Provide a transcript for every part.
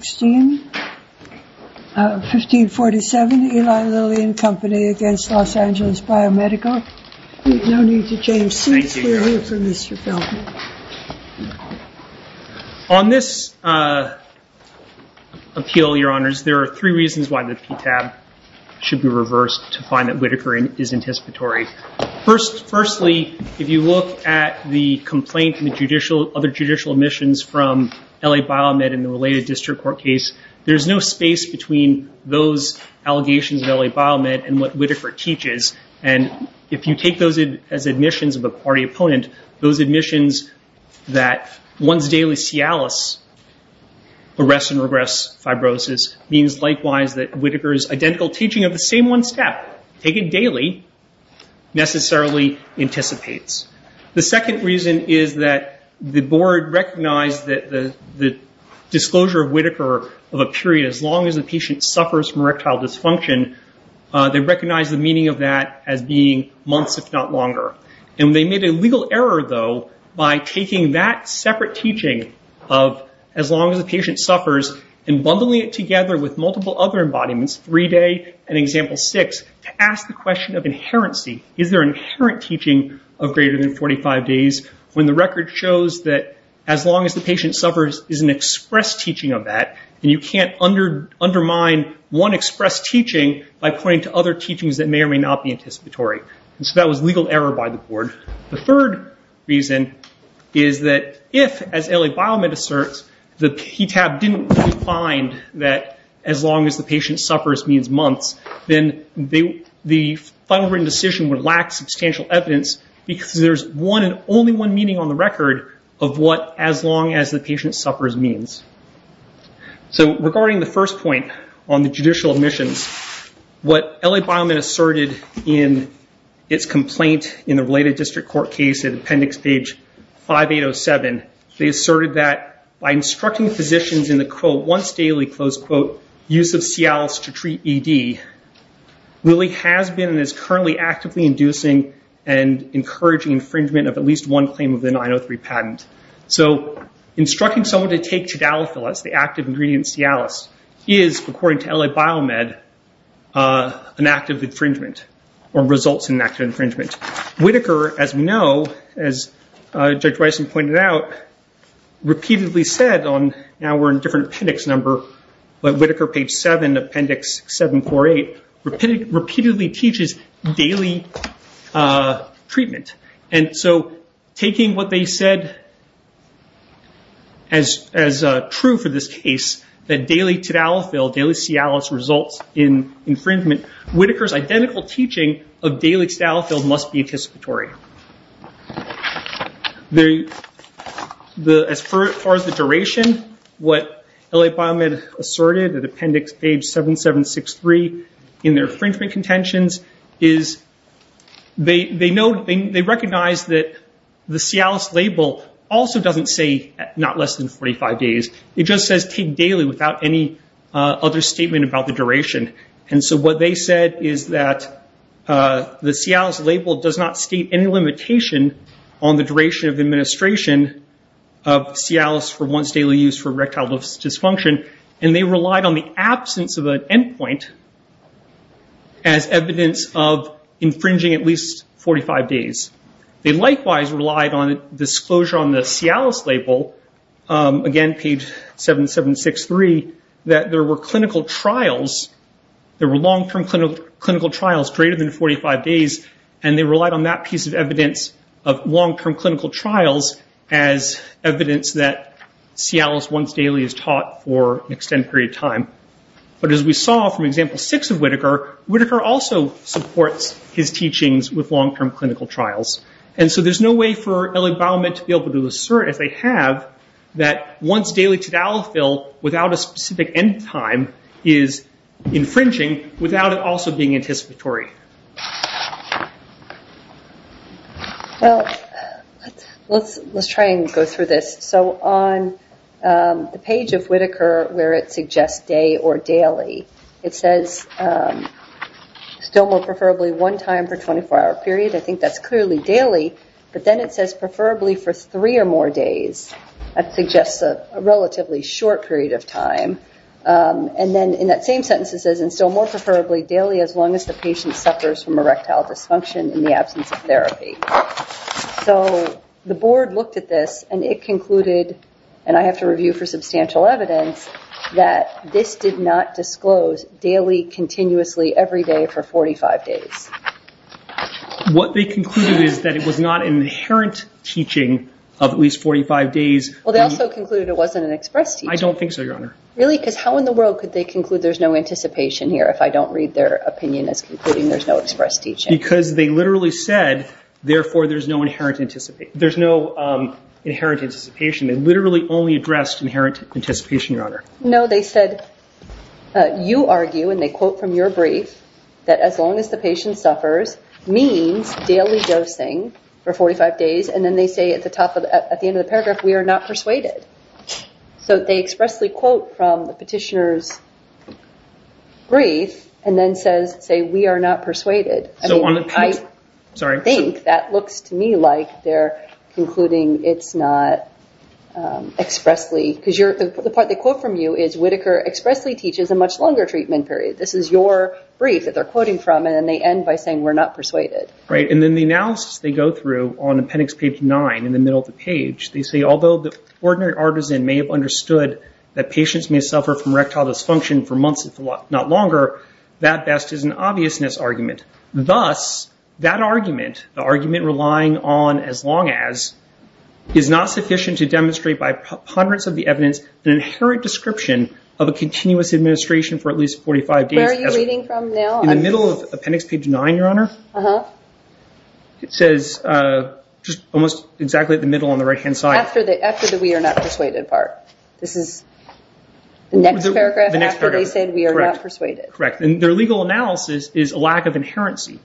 1547 Eli Lilly and Company against Los Angeles Biomedical. No need to change seats, we are here for Mr. Feldman. On this appeal, your honors, there are three reasons why the PTAB should be reversed to find that Whitaker is anticipatory. Firstly, if you look at the complaint and other judicial admissions from L.A. Biomed in the related district court case, there is no space between those allegations of L.A. Biomed and what Whitaker teaches. And if you take those as admissions of a party opponent, those admissions that one's daily Cialis, arrest and regress fibrosis, means likewise that Whitaker's identical teaching of the same one step, taken daily, necessarily anticipates. The second reason is that the board recognized that the disclosure of Whitaker of a period as long as the patient suffers from erectile dysfunction, they recognized the meaning of that as being months, if not longer. And they made a legal error, though, by taking that separate teaching of as long as the patient suffers and bundling it together with multiple other embodiments, three day and example six, to ask the question of inherency. Is there an inherent teaching of greater than 45 days when the record shows that as long as the patient suffers is an express teaching of that. And you can't undermine one express teaching by pointing to other teachings that may or may not be anticipatory. So that was legal error by the board. The third reason is that if, as L.A. Biomed asserts, the PTAB didn't find that as long as the patient suffers means months, then the final written decision would lack substantial evidence because there's one and only one meaning on the record of what as long as the patient suffers means. So regarding the first point on the judicial admissions, what L.A. Biomed asserted in its complaint in the related district court case in appendix page 5807, they asserted that by instructing physicians in the, quote, once daily, close quote, use of Cialis to treat ED, really has been and is currently actively inducing and encouraging infringement of at least one claim of the 903 patent. So instructing someone to take chitalophilus, the active ingredient Cialis, is, according to L.A. Biomed, an act of infringement or results in an act of infringement. Whittaker, as we know, as Judge Wyson pointed out, repeatedly said on, now we're in a different appendix number, but Whittaker, page 7, appendix 748, repeatedly teaches daily treatment. And so taking what they said as true for this case, that daily chitalophilus, daily Cialis, results in infringement, Whittaker's identical teaching of daily chitalophilus must be anticipatory. As far as the duration, what L.A. Biomed asserted at appendix page 7763 in their infringement contentions, is they recognize that the Cialis label also doesn't say not less than 45 days. It just says take daily without any other statement about the duration. And so what they said is that the Cialis label does not state any limitation on the duration of administration of Cialis for once daily use for erectile dysfunction. And they relied on the absence of an endpoint as evidence of infringing at least 45 days. They likewise relied on disclosure on the Cialis label, again, page 7763, that there were clinical trials, there were long-term clinical trials greater than 45 days, and they relied on that piece of evidence of long-term clinical trials as evidence that Cialis once daily is taught for an extended period of time. But as we saw from example 6 of Whittaker, Whittaker also supports his teachings with long-term clinical trials. And so there's no way for L.A. Biomed to be able to assert, as they have, that once daily chitalophil without a specific end time is infringing without it also being anticipatory. Well, let's try and go through this. So on the page of Whittaker where it suggests day or daily, it says still more preferably one time for 24-hour period. I think that's clearly daily. But then it says preferably for three or more days. That suggests a relatively short period of time. And then in that same sentence it says and still more preferably daily as long as the patient suffers from erectile dysfunction in the absence of therapy. So the board looked at this and it concluded, and I have to review for substantial evidence, that this did not disclose daily continuously every day for 45 days. What they concluded is that it was not an inherent teaching of at least 45 days. Well, they also concluded it wasn't an express teaching. I don't think so, Your Honor. Really? Because how in the world could they conclude there's no anticipation here if I don't read their opinion as concluding there's no express teaching? Because they literally said, therefore, there's no inherent anticipation. They literally only addressed inherent anticipation, Your Honor. No, they said, you argue, and they quote from your brief, that as long as the patient suffers means daily dosing for 45 days. And then they say at the end of the paragraph, we are not persuaded. So they expressly quote from the petitioner's brief and then say, we are not persuaded. I think that looks to me like they're concluding it's not expressly, because the part they quote from you is, Whitaker expressly teaches a much longer treatment period. This is your brief that they're quoting from, and then they end by saying we're not persuaded. Right, and then the analysis they go through on appendix page 9 in the middle of the page, they say, although the ordinary artisan may have understood that patients may suffer from erectile dysfunction for months, if not longer, that best is an obviousness argument. Thus, that argument, the argument relying on as long as, is not sufficient to demonstrate by ponderance of the evidence an inherent description of a continuous administration for at least 45 days. Where are you reading from now? It says almost exactly at the middle on the right hand side. After the we are not persuaded part. This is the next paragraph after they said we are not persuaded. Correct. And their legal analysis is a lack of inherency.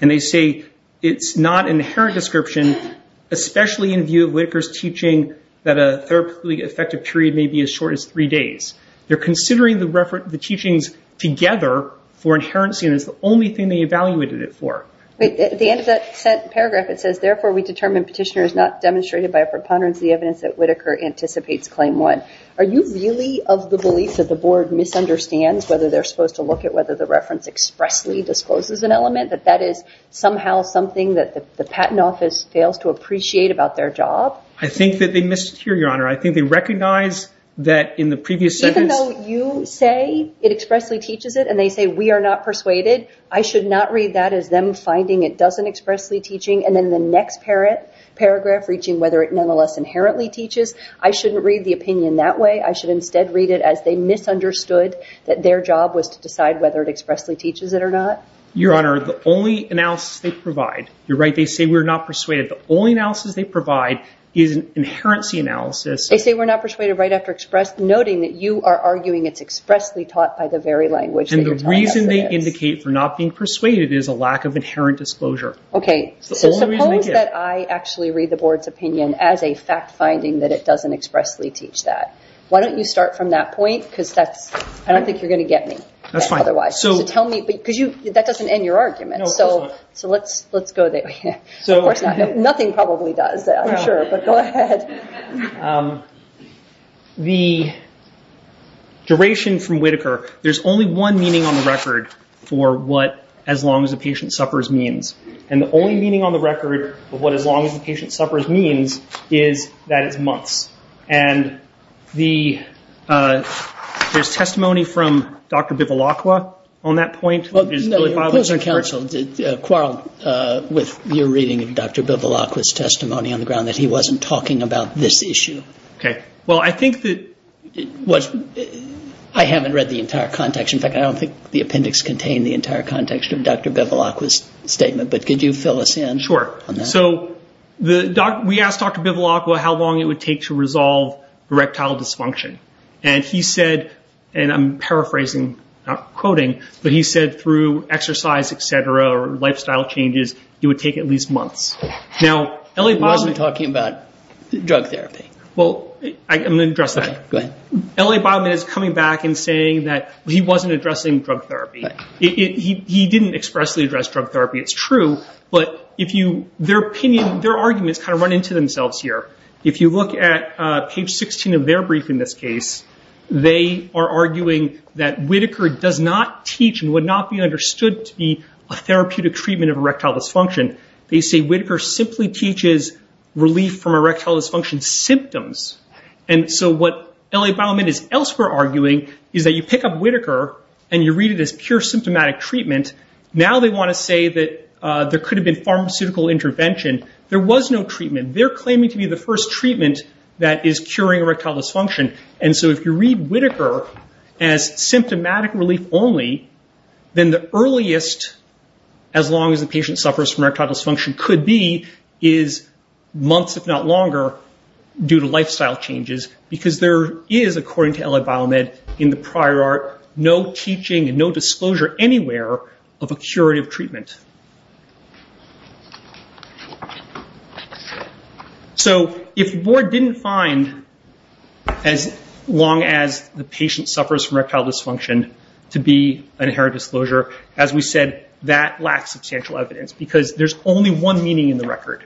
And they say it's not an inherent description, especially in view of Whitaker's teaching that a therapeutically effective period may be as short as three days. They're considering the reference, the teachings together for inherency, and it's the only thing they evaluated it for. At the end of that paragraph, it says, therefore, we determine petitioner is not demonstrated by a preponderance of the evidence that Whitaker anticipates claim one. Are you really of the belief that the board misunderstands whether they're supposed to look at whether the reference expressly discloses an element, that that is somehow something that the patent office fails to appreciate about their job? I think that they missed it here, Your Honor. I think they recognize that in the previous sentence, you say it expressly teaches it and they say we are not persuaded. I should not read that as them finding it doesn't expressly teaching. And then the next parent paragraph reaching whether it nonetheless inherently teaches. I shouldn't read the opinion that way. I should instead read it as they misunderstood that their job was to decide whether it expressly teaches it or not. Your Honor, the only analysis they provide. You're right. They say we're not persuaded. The only analysis they provide is an inherency analysis. They say we're not persuaded right after express noting that you are arguing it's expressly taught by the very language that you're talking about. And the reason they indicate for not being persuaded is a lack of inherent disclosure. Suppose that I actually read the board's opinion as a fact finding that it doesn't expressly teach that. Why don't you start from that point because I don't think you're going to get me. That's fine. Because that doesn't end your argument. No, of course not. So let's go there. Nothing probably does. I'm sure. But go ahead. The duration from Whitaker, there's only one meaning on the record for what as long as a patient suffers means. And the only meaning on the record of what as long as a patient suffers means is that it's months. And there's testimony from Dr. Bivolaqua on that point. Your opposing counsel quarreled with your reading of Dr. Bivolaqua's testimony on the ground that he wasn't talking about this issue. I haven't read the entire context. In fact, I don't think the appendix contained the entire context of Dr. Bivolaqua's statement. But could you fill us in on that? Sure. So we asked Dr. Bivolaqua how long it would take to resolve erectile dysfunction. And he said, and I'm paraphrasing, not quoting, but he said through exercise, et cetera, or lifestyle changes, it would take at least months. He wasn't talking about drug therapy. Well, I'm going to address that. Okay, go ahead. L.A. Bioman is coming back and saying that he wasn't addressing drug therapy. He didn't expressly address drug therapy. It's true. But their arguments kind of run into themselves here. If you look at page 16 of their brief in this case, they are arguing that Whitaker does not teach and would not be understood to be a therapeutic treatment of erectile dysfunction. They say Whitaker simply teaches relief from erectile dysfunction symptoms. And so what L.A. Bioman is elsewhere arguing is that you pick up Whitaker and you read it as pure symptomatic treatment. Now they want to say that there could have been pharmaceutical intervention. There was no treatment. They're claiming to be the first treatment that is curing erectile dysfunction. And so if you read Whitaker as symptomatic relief only, then the earliest, as long as the patient suffers from erectile dysfunction, could be is months, if not longer, due to lifestyle changes. Because there is, according to L.A. Bioman, in the prior art, no teaching and no disclosure anywhere of a curative treatment. So if Ward didn't find, as long as the patient suffers from erectile dysfunction, to be an inherent disclosure, as we said, that lacks substantial evidence. Because there's only one meaning in the record.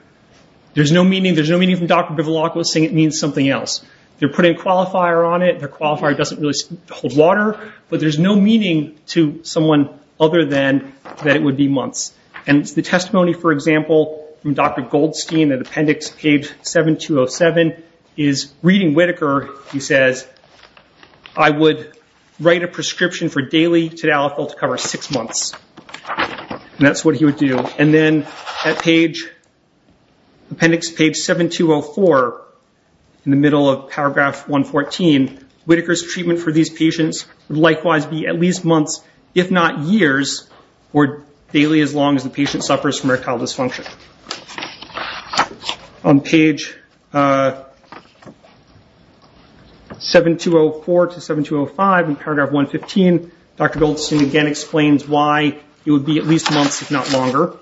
There's no meaning. There's no meaning from Dr. Bivalaco saying it means something else. They're putting qualifier on it. The qualifier doesn't really hold water. But there's no meaning to someone other than that it would be months. And the testimony, for example, from Dr. Goldstein, in appendix page 7207, is reading Whitaker. He says, I would write a prescription for daily Tadalafil to cover six months. And that's what he would do. And then at page, appendix page 7204, in the middle of paragraph 114, Whitaker's treatment for these patients would likewise be at least months, if not years, or daily as long as the patient suffers from erectile dysfunction. On page 7204 to 7205, in paragraph 115, Dr. Goldstein again explains why it would be at least months, if not longer.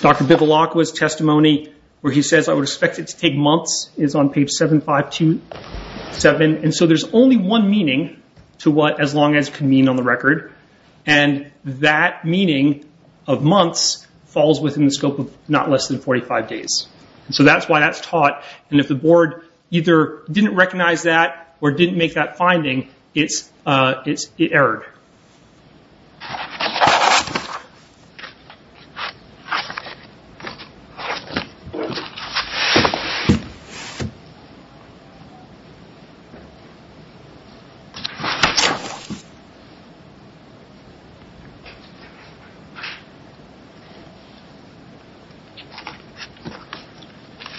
Dr. Bivalaco's testimony, where he says, I would expect it to take months, is on page 7527. And so there's only one meaning to what as long as can mean on the record. And that meaning of months falls within the scope of not less than 45 days. So that's why that's taught. And if the board either didn't recognize that or didn't make that finding, it erred.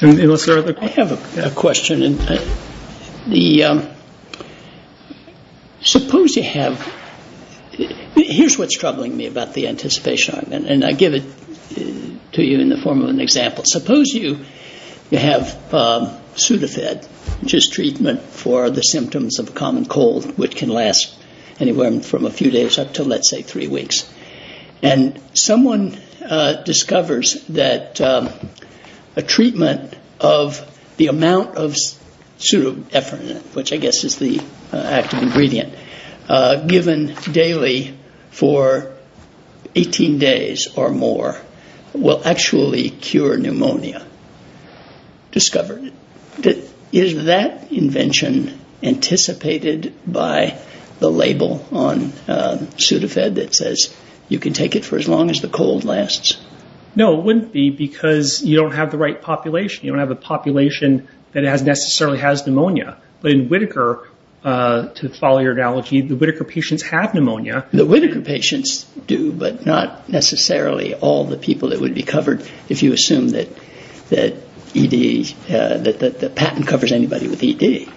I have a question. Suppose you have, here's what's troubling me about the anticipation argument. And I give it to you in the form of an example. Suppose you have Sudafed, which is treatment for the symptoms of common cold, which can last anywhere from a few days up to, let's say, three weeks. And someone discovers that a treatment of the amount of Pseudoephrine, which I guess is the active ingredient, given daily for 18 days or more will actually cure pneumonia. Discovered it. Is that invention anticipated by the label on Sudafed that says you can take it for as long as the cold lasts? No, it wouldn't be because you don't have the right population. You don't have a population that necessarily has pneumonia. But in Whitaker, to follow your analogy, the Whitaker patients have pneumonia. The Whitaker patients do, but not necessarily all the people that would be covered if you assume that ED, that the patent covers anybody with ED.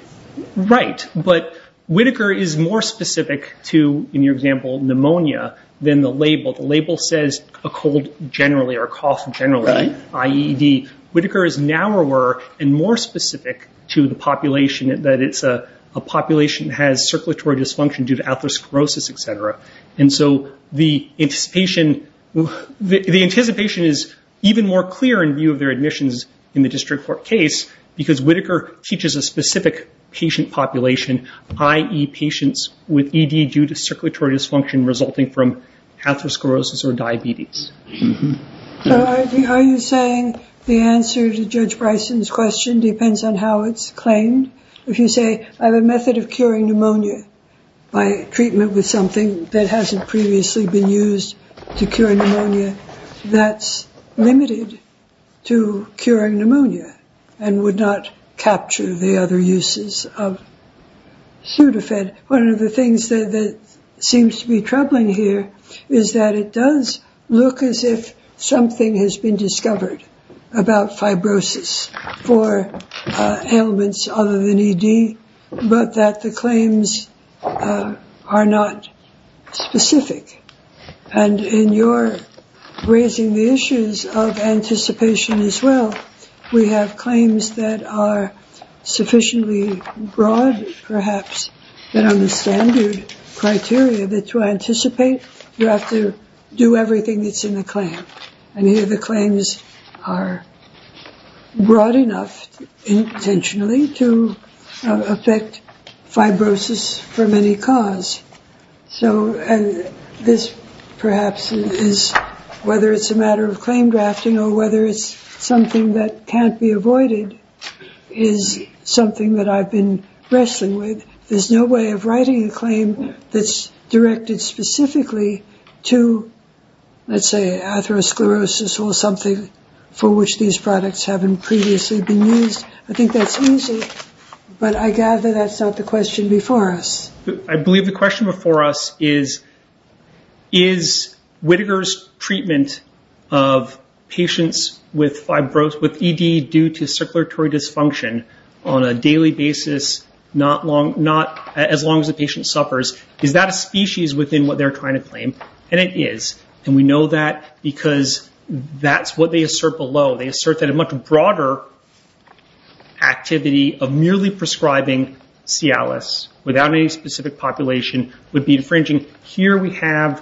Right. But Whitaker is more specific to, in your example, pneumonia than the label. The label says a cold generally or a cough generally, i.e. ED. Whitaker is narrower and more specific to the population that it's a population that has circulatory dysfunction due to atherosclerosis, etc. And so the anticipation is even more clear in view of their admissions in the district court case because Whitaker teaches a specific patient population, i.e. patients with ED due to circulatory dysfunction resulting from atherosclerosis or diabetes. Are you saying the answer to Judge Bryson's question depends on how it's claimed? If you say, I have a method of curing pneumonia by treatment with something that hasn't previously been used to cure pneumonia, that's limited to curing pneumonia and would not capture the other uses of Sudafed. One of the things that seems to be troubling here is that it does look as if something has been discovered about fibrosis for ailments other than ED, but that the claims are not specific. And in your raising the issues of anticipation as well, we have claims that are sufficiently broad, perhaps, that are the standard criteria that to anticipate you have to do everything that's in the claim. And here the claims are broad enough intentionally to affect fibrosis from any cause. So this perhaps is whether it's a matter of claim drafting or whether it's something that can't be avoided is something that I've been wrestling with. There's no way of writing a claim that's directed specifically to, let's say, atherosclerosis or something for which these products haven't previously been used. I think that's easy, but I gather that's not the question before us. I believe the question before us is, is Whitaker's treatment of patients with ED due to circulatory dysfunction on a daily basis, not as long as the patient suffers, is that a species within what they're trying to claim? And it is. And we know that because that's what they assert below. They assert that a much broader activity of merely prescribing Cialis without any specific population would be infringing. Here we have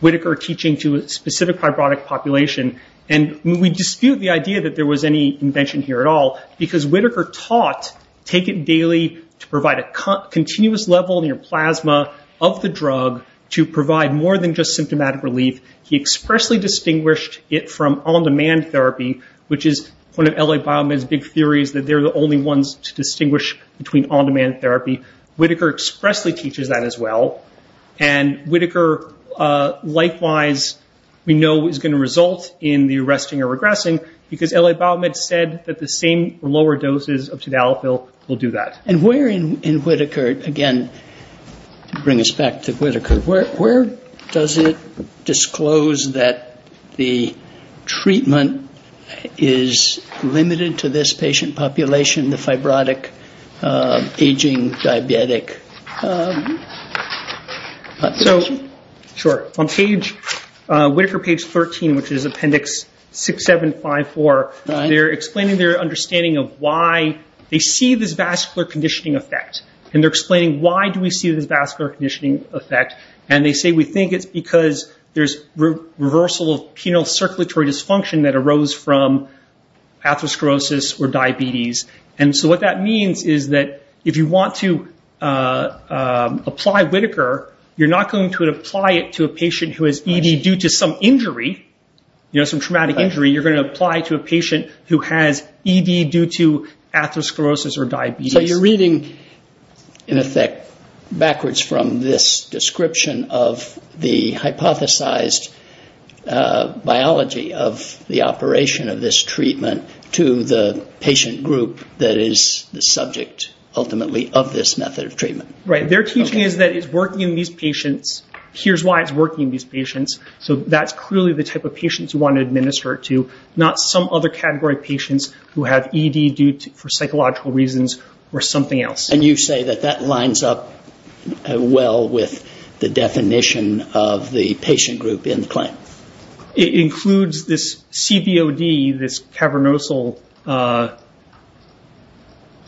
Whitaker teaching to a specific fibrotic population. And we dispute the idea that there was any invention here at all because Whitaker taught, take it daily to provide a continuous level in your plasma of the drug to provide more than just symptomatic relief. He expressly distinguished it from on-demand therapy, which is one of L.A. Biomed's big theories, that they're the only ones to distinguish between on-demand therapy. Whitaker expressly teaches that as well. And Whitaker, likewise, we know is going to result in the arresting or regressing because L.A. Biomed said that the same lower doses of Tadalafil will do that. And where in Whitaker, again, to bring us back to Whitaker, where does it disclose that the treatment is limited to this patient population, the fibrotic aging diabetic population? Sure. On Whitaker page 13, which is appendix 6, 7, 5, 4, they're explaining their understanding of why they see this vascular conditioning effect. And they're explaining why do we see this vascular conditioning effect. And they say we think it's because there's reversal of penile circulatory dysfunction that arose from atherosclerosis or diabetes. And so what that means is that if you want to apply Whitaker, you're not going to apply it to a patient who has ED due to some injury, you know, some traumatic injury. You're going to apply it to a patient who has ED due to atherosclerosis or diabetes. So you're reading, in effect, backwards from this description of the hypothesized biology of the operation of this treatment to the patient group that is the subject, ultimately, of this method of treatment. Right. Their teaching is that it's working in these patients. Here's why it's working in these patients. So that's clearly the type of patients you want to administer it to, not some other category of patients who have ED due to psychological reasons or something else. And you say that that lines up well with the definition of the patient group in the claim? It includes this CBOD, this cavernosal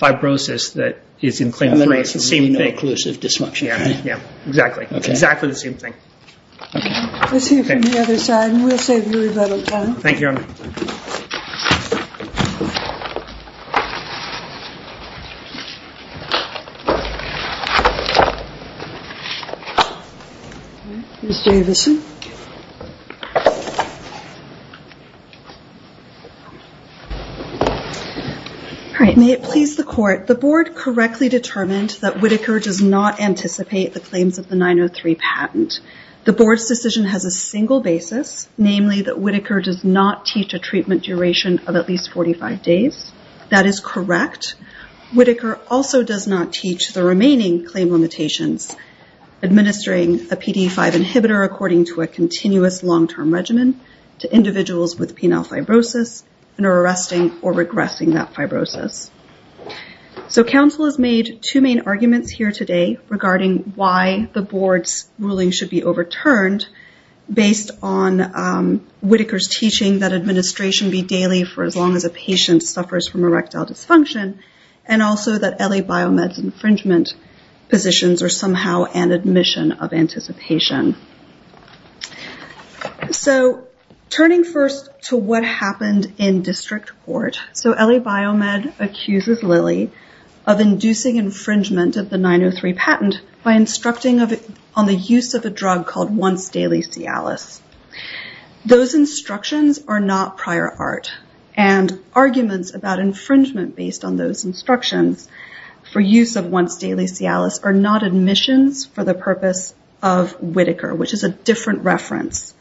fibrosis that is in claim 3. It's the same thing. Exactly. Exactly the same thing. Let's hear from the other side, and we'll save you a little time. Thank you, Your Honor. Ms. Davidson. All right. May it please the Court. The Board correctly determined that Whitaker does not anticipate the claims of the 903 patent. The Board's decision has a single basis, namely that Whitaker does not teach a treatment duration of at least 45 days. That is correct. Whitaker also does not teach the remaining claim limitations, administering a PDE5 inhibitor according to a continuous long-term regimen to individuals with penile fibrosis and are arresting or regressing that fibrosis. Counsel has made two main arguments here today regarding why the Board's ruling should be overturned based on Whitaker's teaching that administration be daily for as long as a patient suffers from erectile dysfunction, and also that LA Biomed's infringement positions are somehow an admission of anticipation. So turning first to what happened in district court, so LA Biomed accuses Lilly of inducing infringement of the 903 patent by instructing on the use of a drug called once daily Cialis. Those instructions are not prior art, and arguments about infringement based on those instructions for use of once daily Cialis are not admissions for the purpose of Whitaker, which is a different reference.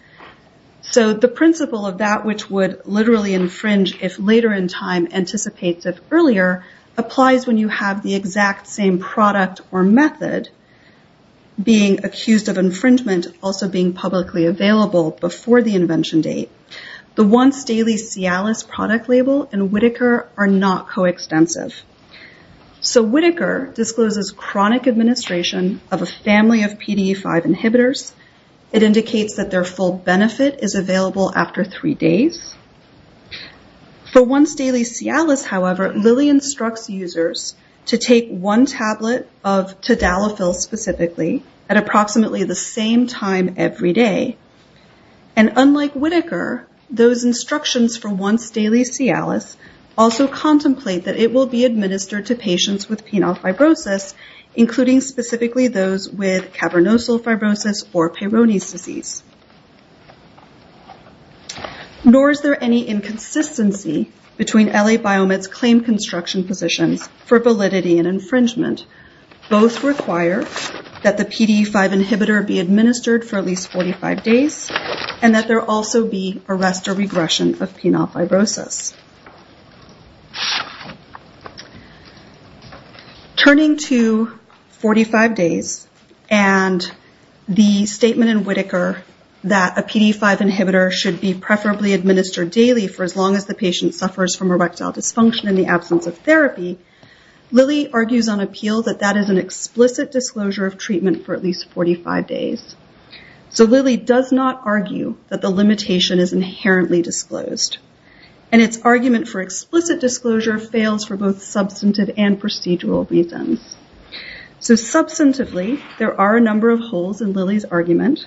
So the principle of that which would literally infringe if later in time anticipates of earlier applies when you have the exact same product or method being accused of infringement also being publicly available before the invention date. The once daily Cialis product label and Whitaker are not coextensive. So Whitaker discloses chronic administration of a family of PDE5 inhibitors. It indicates that their full benefit is available after three days. For once daily Cialis, however, Lilly instructs users to take one tablet of Tadalafil specifically at approximately the same time every day. And unlike Whitaker, those instructions for once daily Cialis also contemplate that it will be administered to patients with penile fibrosis, including specifically those with cavernosal fibrosis or Peyronie's disease. Nor is there any inconsistency between LA Biomed's claim construction positions for validity and infringement. Both require that the PDE5 inhibitor be administered for at least 45 days and that there also be arrest or regression of penile fibrosis. Turning to 45 days and the statement in Whitaker that a PDE5 inhibitor should be preferably administered daily for as long as the patient suffers from erectile dysfunction in the absence of therapy. Lilly argues on appeal that that is an explicit disclosure of treatment for at least 45 days. So Lilly does not argue that the limitation is inherently disclosed. And its argument for explicit disclosure fails for both substantive and procedural reasons. So substantively, there are a number of holes in Lilly's argument.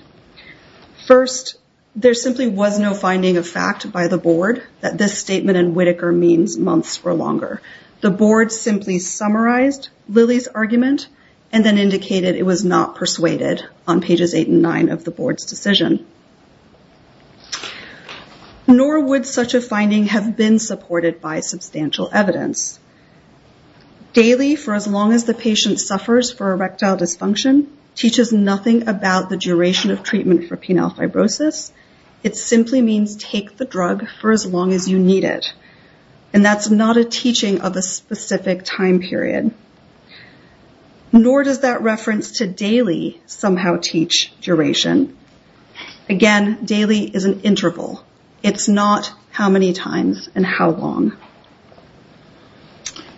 First, there simply was no finding of fact by the board that this statement in Whitaker means months or longer. The board simply summarized Lilly's argument and then indicated it was not persuaded on pages eight and nine of the board's decision. Nor would such a finding have been supported by substantial evidence. Daily for as long as the patient suffers for erectile dysfunction teaches nothing about the duration of treatment for penile fibrosis. It simply means take the drug for as long as you need it. And that's not a teaching of a specific time period. Nor does that reference to daily somehow teach duration. Again, daily is an interval. It's not how many times and how long.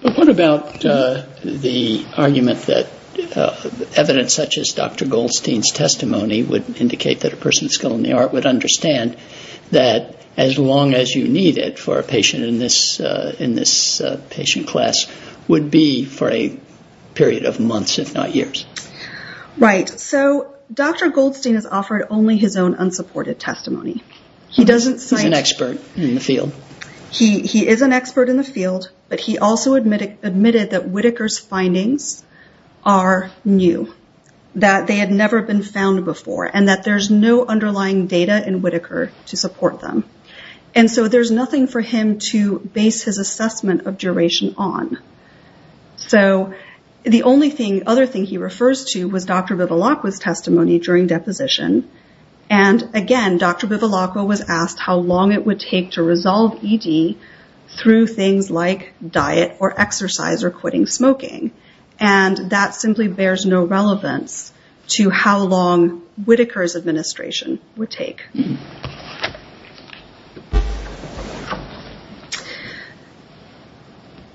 But what about the argument that evidence such as Dr. Goldstein's testimony would indicate that a person with a skill in the art would understand that as long as you need it for a patient in this patient class would be for a period of months, if not years? Right. So Dr. Goldstein has offered only his own unsupported testimony. He is an expert in the field, but he also admitted that Whitaker's findings are new. That they had never been found before and that there's no underlying data in Whitaker to support them. And so there's nothing for him to base his assessment of duration on. So the only thing other thing he refers to was Dr. Bivilacqua's testimony during deposition. And again, Dr. Bivilacqua was asked how long it would take to resolve ED through things like diet or exercise or quitting smoking. And that simply bears no relevance to how long Whitaker's administration would take.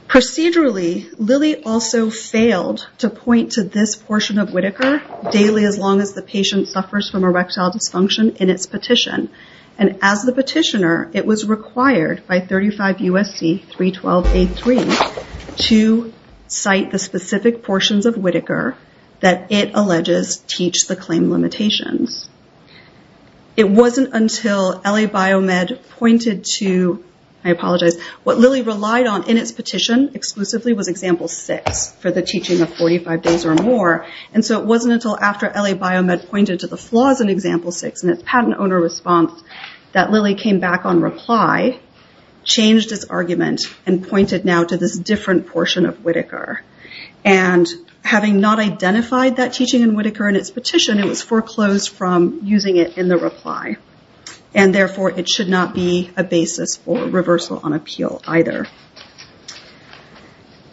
Procedurally, Lilly also failed to point to this portion of Whitaker daily as long as the patient suffers from erectile dysfunction in its petition. And as the petitioner, it was required by 35 USC 312A3 to cite the specific portions of Whitaker that it alleges teach the claim limitations. It wasn't until LA Biomed pointed to, I apologize, what Lilly relied on in its petition exclusively was example six for the teaching of 45 days or more. And so it wasn't until after LA Biomed pointed to the flaws in example six and its patent owner response that Lilly came back on reply. Changed his argument and pointed now to this different portion of Whitaker. And having not identified that teaching in Whitaker and its petition, it was foreclosed from using it in the reply. And therefore it should not be a basis for reversal on appeal either.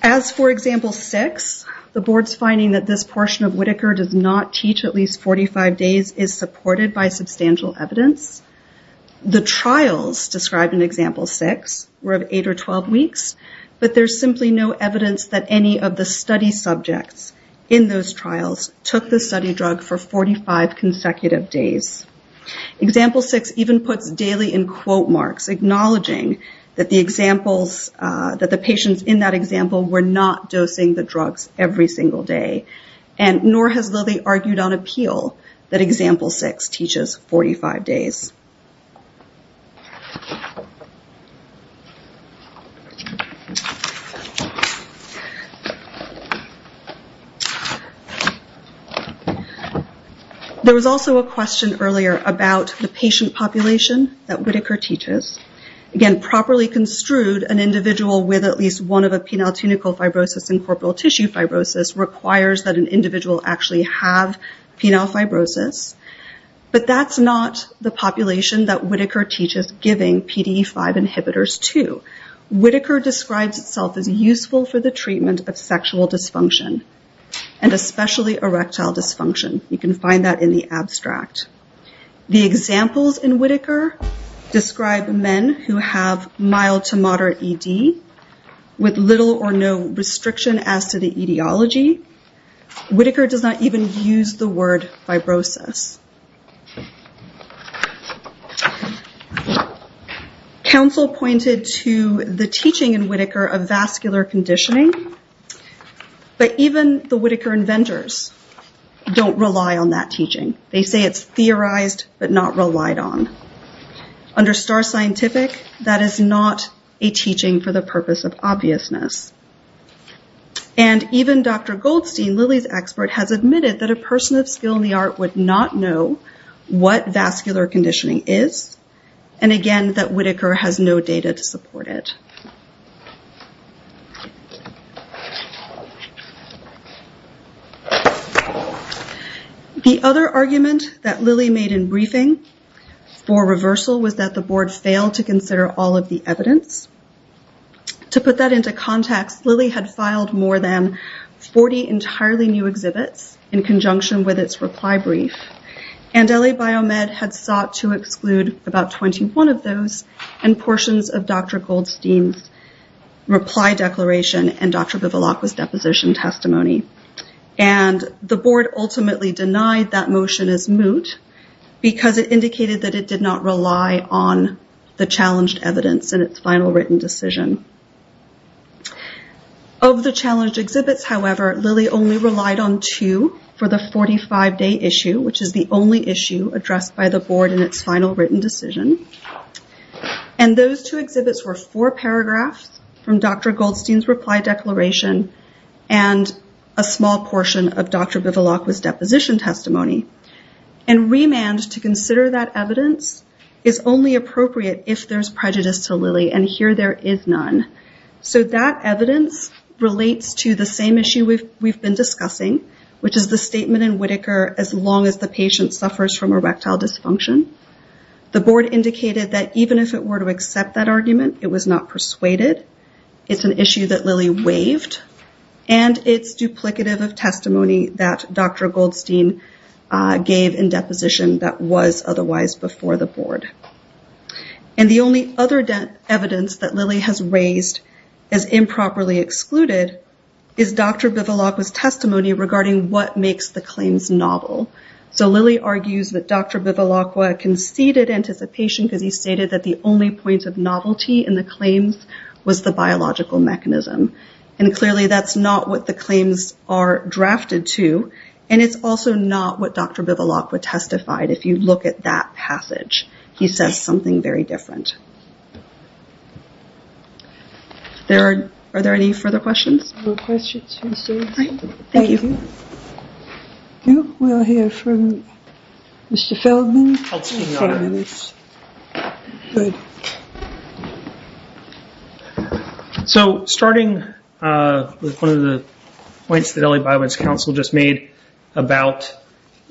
As for example six, the board's finding that this portion of Whitaker does not teach at least 45 days is supported by substantial evidence. The trials described in example six were of eight or 12 weeks, but there's simply no evidence that any of the study subjects in those trials took the study drug for 45 consecutive days. Example six even puts daily in quote marks acknowledging that the patients in that example were not dosing the drugs every single day. And nor has Lilly argued on appeal that example six teaches 45 days. There was also a question earlier about the patient population that Whitaker teaches. Again, properly construed an individual with at least one of the penile-tunical fibrosis and corporal tissue fibrosis requires that an individual actually have penile fibrosis. But that's not the population that Whitaker teaches. Giving PDE5 inhibitors too. Whitaker describes itself as useful for the treatment of sexual dysfunction and especially erectile dysfunction. You can find that in the abstract. The examples in Whitaker describe men who have mild to moderate ED with little or no restriction as to the etiology. Whitaker does not even use the word fibrosis. Council pointed to the teaching in Whitaker of vascular conditioning. But even the Whitaker inventors don't rely on that teaching. They say it's theorized but not relied on. Under Star Scientific, that is not a teaching for the purpose of obviousness. Even Dr. Goldstein, Lilly's expert, has admitted that a person of skill in the art would not know what vascular conditioning is. And again, that Whitaker has no data to support it. The other argument that Lilly made in briefing for reversal was that the board failed to consider all of the evidence. To put that into context, Lilly had filed more than 40 entirely new exhibits in conjunction with its reply brief. And LA Biomed had sought to exclude about 21 of those and portions of Dr. Goldstein's reply declaration and Dr. Bivilacqua's deposition testimony. And the board ultimately denied that motion as moot because it indicated that it did not rely on the challenged evidence in its final written decision. Of the challenged exhibits, however, Lilly only relied on two for the 45-day issue, which is the only issue addressed by the board in its final written decision. And those two exhibits were four paragraphs from Dr. Goldstein's reply declaration and a small portion of Dr. Bivilacqua's deposition testimony. And remand to consider that evidence is only appropriate if there's prejudice to Lilly, and here there is none. So that evidence relates to the same issue we've been discussing, which is the statement in Whitaker, as long as the patient suffers from erectile dysfunction. The board indicated that even if it were to accept that argument, it was not persuaded. It's an issue that Lilly waived, and it's duplicative of testimony that Dr. Goldstein gave in deposition that was otherwise before the board. And the only other evidence that Lilly has raised as improperly excluded is Dr. Bivilacqua's testimony regarding what makes the claims novel. So Lilly argues that Dr. Bivilacqua conceded anticipation because he stated that the only point of novelty in the claims was the biological mechanism. And clearly that's not what the claims are drafted to, and it's also not what Dr. Bivilacqua testified if you look at that passage. He says something very different. Are there any further questions? No questions. Thank you. We'll hear from Mr. Feldman. So starting with one of the points that LA Biobank's counsel just made about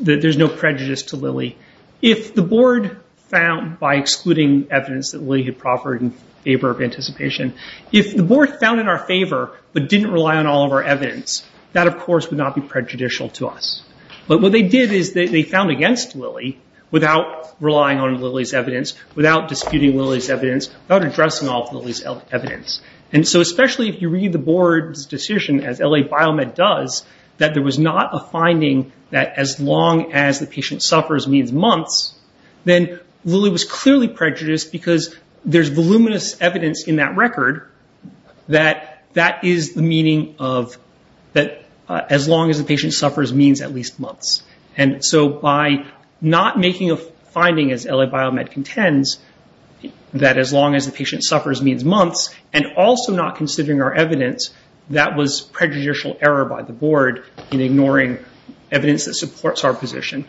that there's no prejudice to Lilly. If the board found, by excluding evidence that Lilly had proffered in favor of anticipation, if the board found in our favor but didn't rely on all of our evidence, that of course would not be prejudicial to us. But what they did is they found against Lilly without relying on Lilly's evidence, without disputing Lilly's evidence, without addressing all of Lilly's evidence. And so especially if you read the board's decision, as LA Biomed does, that there was not a finding that as long as the patient suffers means months, then Lilly was clearly prejudiced because there's voluminous evidence in that record that that is the meaning of that as long as the patient suffers means at least months. And so by not making a finding, as LA Biomed contends, that as long as the patient suffers means months, and also not considering our evidence, that was prejudicial error by the board in ignoring evidence that supports our position.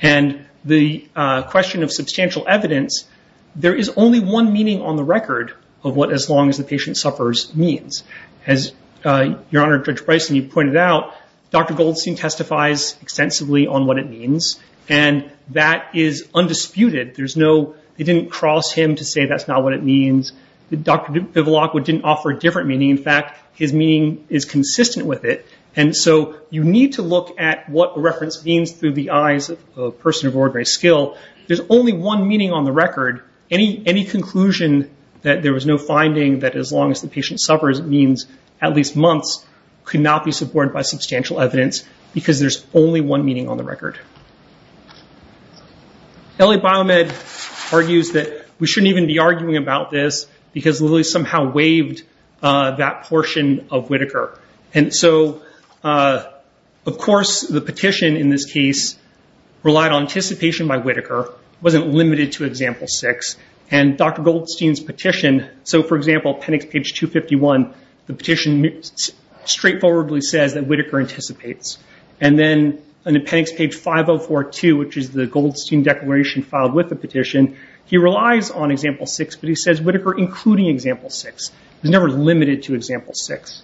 And the question of substantial evidence, there is only one meaning on the record of what as long as the patient suffers means. As Your Honor, Judge Bryson, you pointed out, Dr. Goldstein testifies extensively on what it means, and that is undisputed. There's no, they didn't cross him to say that's not what it means. Dr. Vivalacqua didn't offer a different meaning. In fact, his meaning is consistent with it. And so you need to look at what the reference means through the eyes of a person of ordinary skill. There's only one meaning on the record. Any conclusion that there was no finding that as long as the patient suffers means at least months, could not be supported by substantial evidence because there's only one meaning on the record. LA Biomed argues that we shouldn't even be arguing about this because Lilly somehow waived that portion of Whitaker. And so, of course, the petition in this case relied on anticipation by Whitaker, wasn't limited to example six. And Dr. Goldstein's petition, so for example, appendix page 251, the petition straightforwardly says that Whitaker anticipates. And then appendix page 5042, which is the Goldstein declaration filed with the petition, he relies on example six, but he says Whitaker including example six. He's never limited to example six.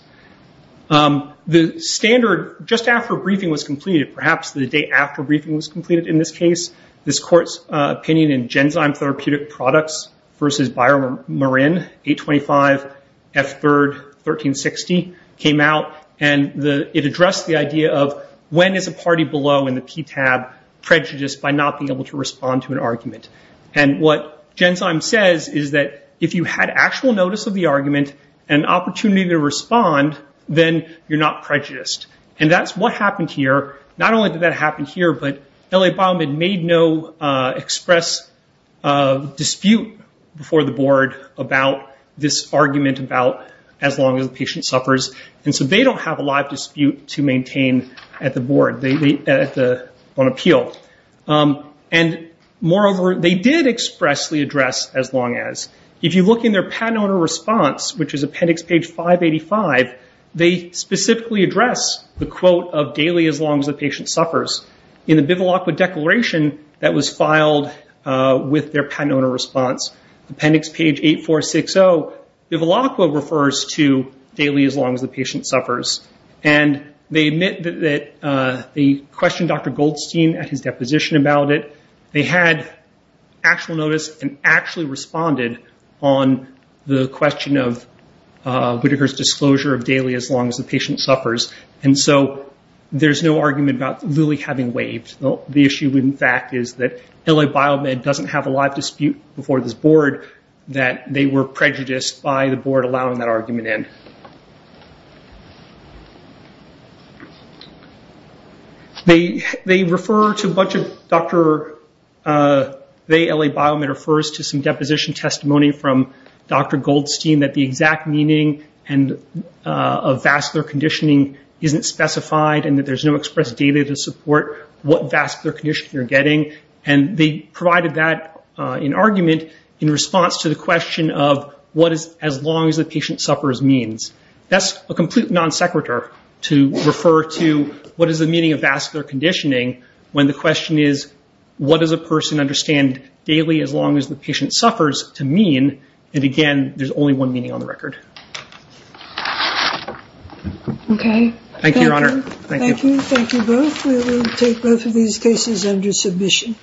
The standard, just after briefing was completed, perhaps the day after briefing was completed in this case, this court's opinion in Genzyme Therapeutic Products versus Byron Marin, 825 F3rd 1360, came out. And it addressed the idea of when is a party below in the PTAB prejudiced by not being able to respond to an argument. And what Genzyme says is that if you had actual notice of the argument and opportunity to respond, then you're not prejudiced. And that's what happened here. Not only did that happen here, but LA Biomed made no express dispute before the board about this argument about as long as the patient suffers. And so they don't have a live dispute to maintain at the board, on appeal. And moreover, they did expressly address as long as. If you look in their patent owner response, which is appendix page 585, they specifically address the quote of daily as long as the patient suffers. In the Bivilacqua declaration that was filed with their patent owner response, appendix page 8460, Bivilacqua refers to daily as long as the patient suffers. And they admit that they questioned Dr. Goldstein at his deposition about it. They had actual notice and actually responded on the question of Whitaker's disclosure of daily as long as the patient suffers. And so there's no argument about really having waived. The issue, in fact, is that LA Biomed doesn't have a live dispute before this board that they were prejudiced by the board allowing that argument in. They refer to a bunch of Dr., they, LA Biomed, refers to some deposition testimony from Dr. Goldstein that the exact meaning of vascular conditioning isn't specified and that there's no express data to support what vascular condition you're getting. And they provided that in argument in response to the question of what is as long as the patient suffers means. That's a complete non sequitur to refer to what is the meaning of vascular conditioning when the question is what does a person understand daily as long as the patient suffers to mean and again, there's only one meaning on the record. Okay. Thank you, Your Honor. Thank you both. We will take both of these cases under submission.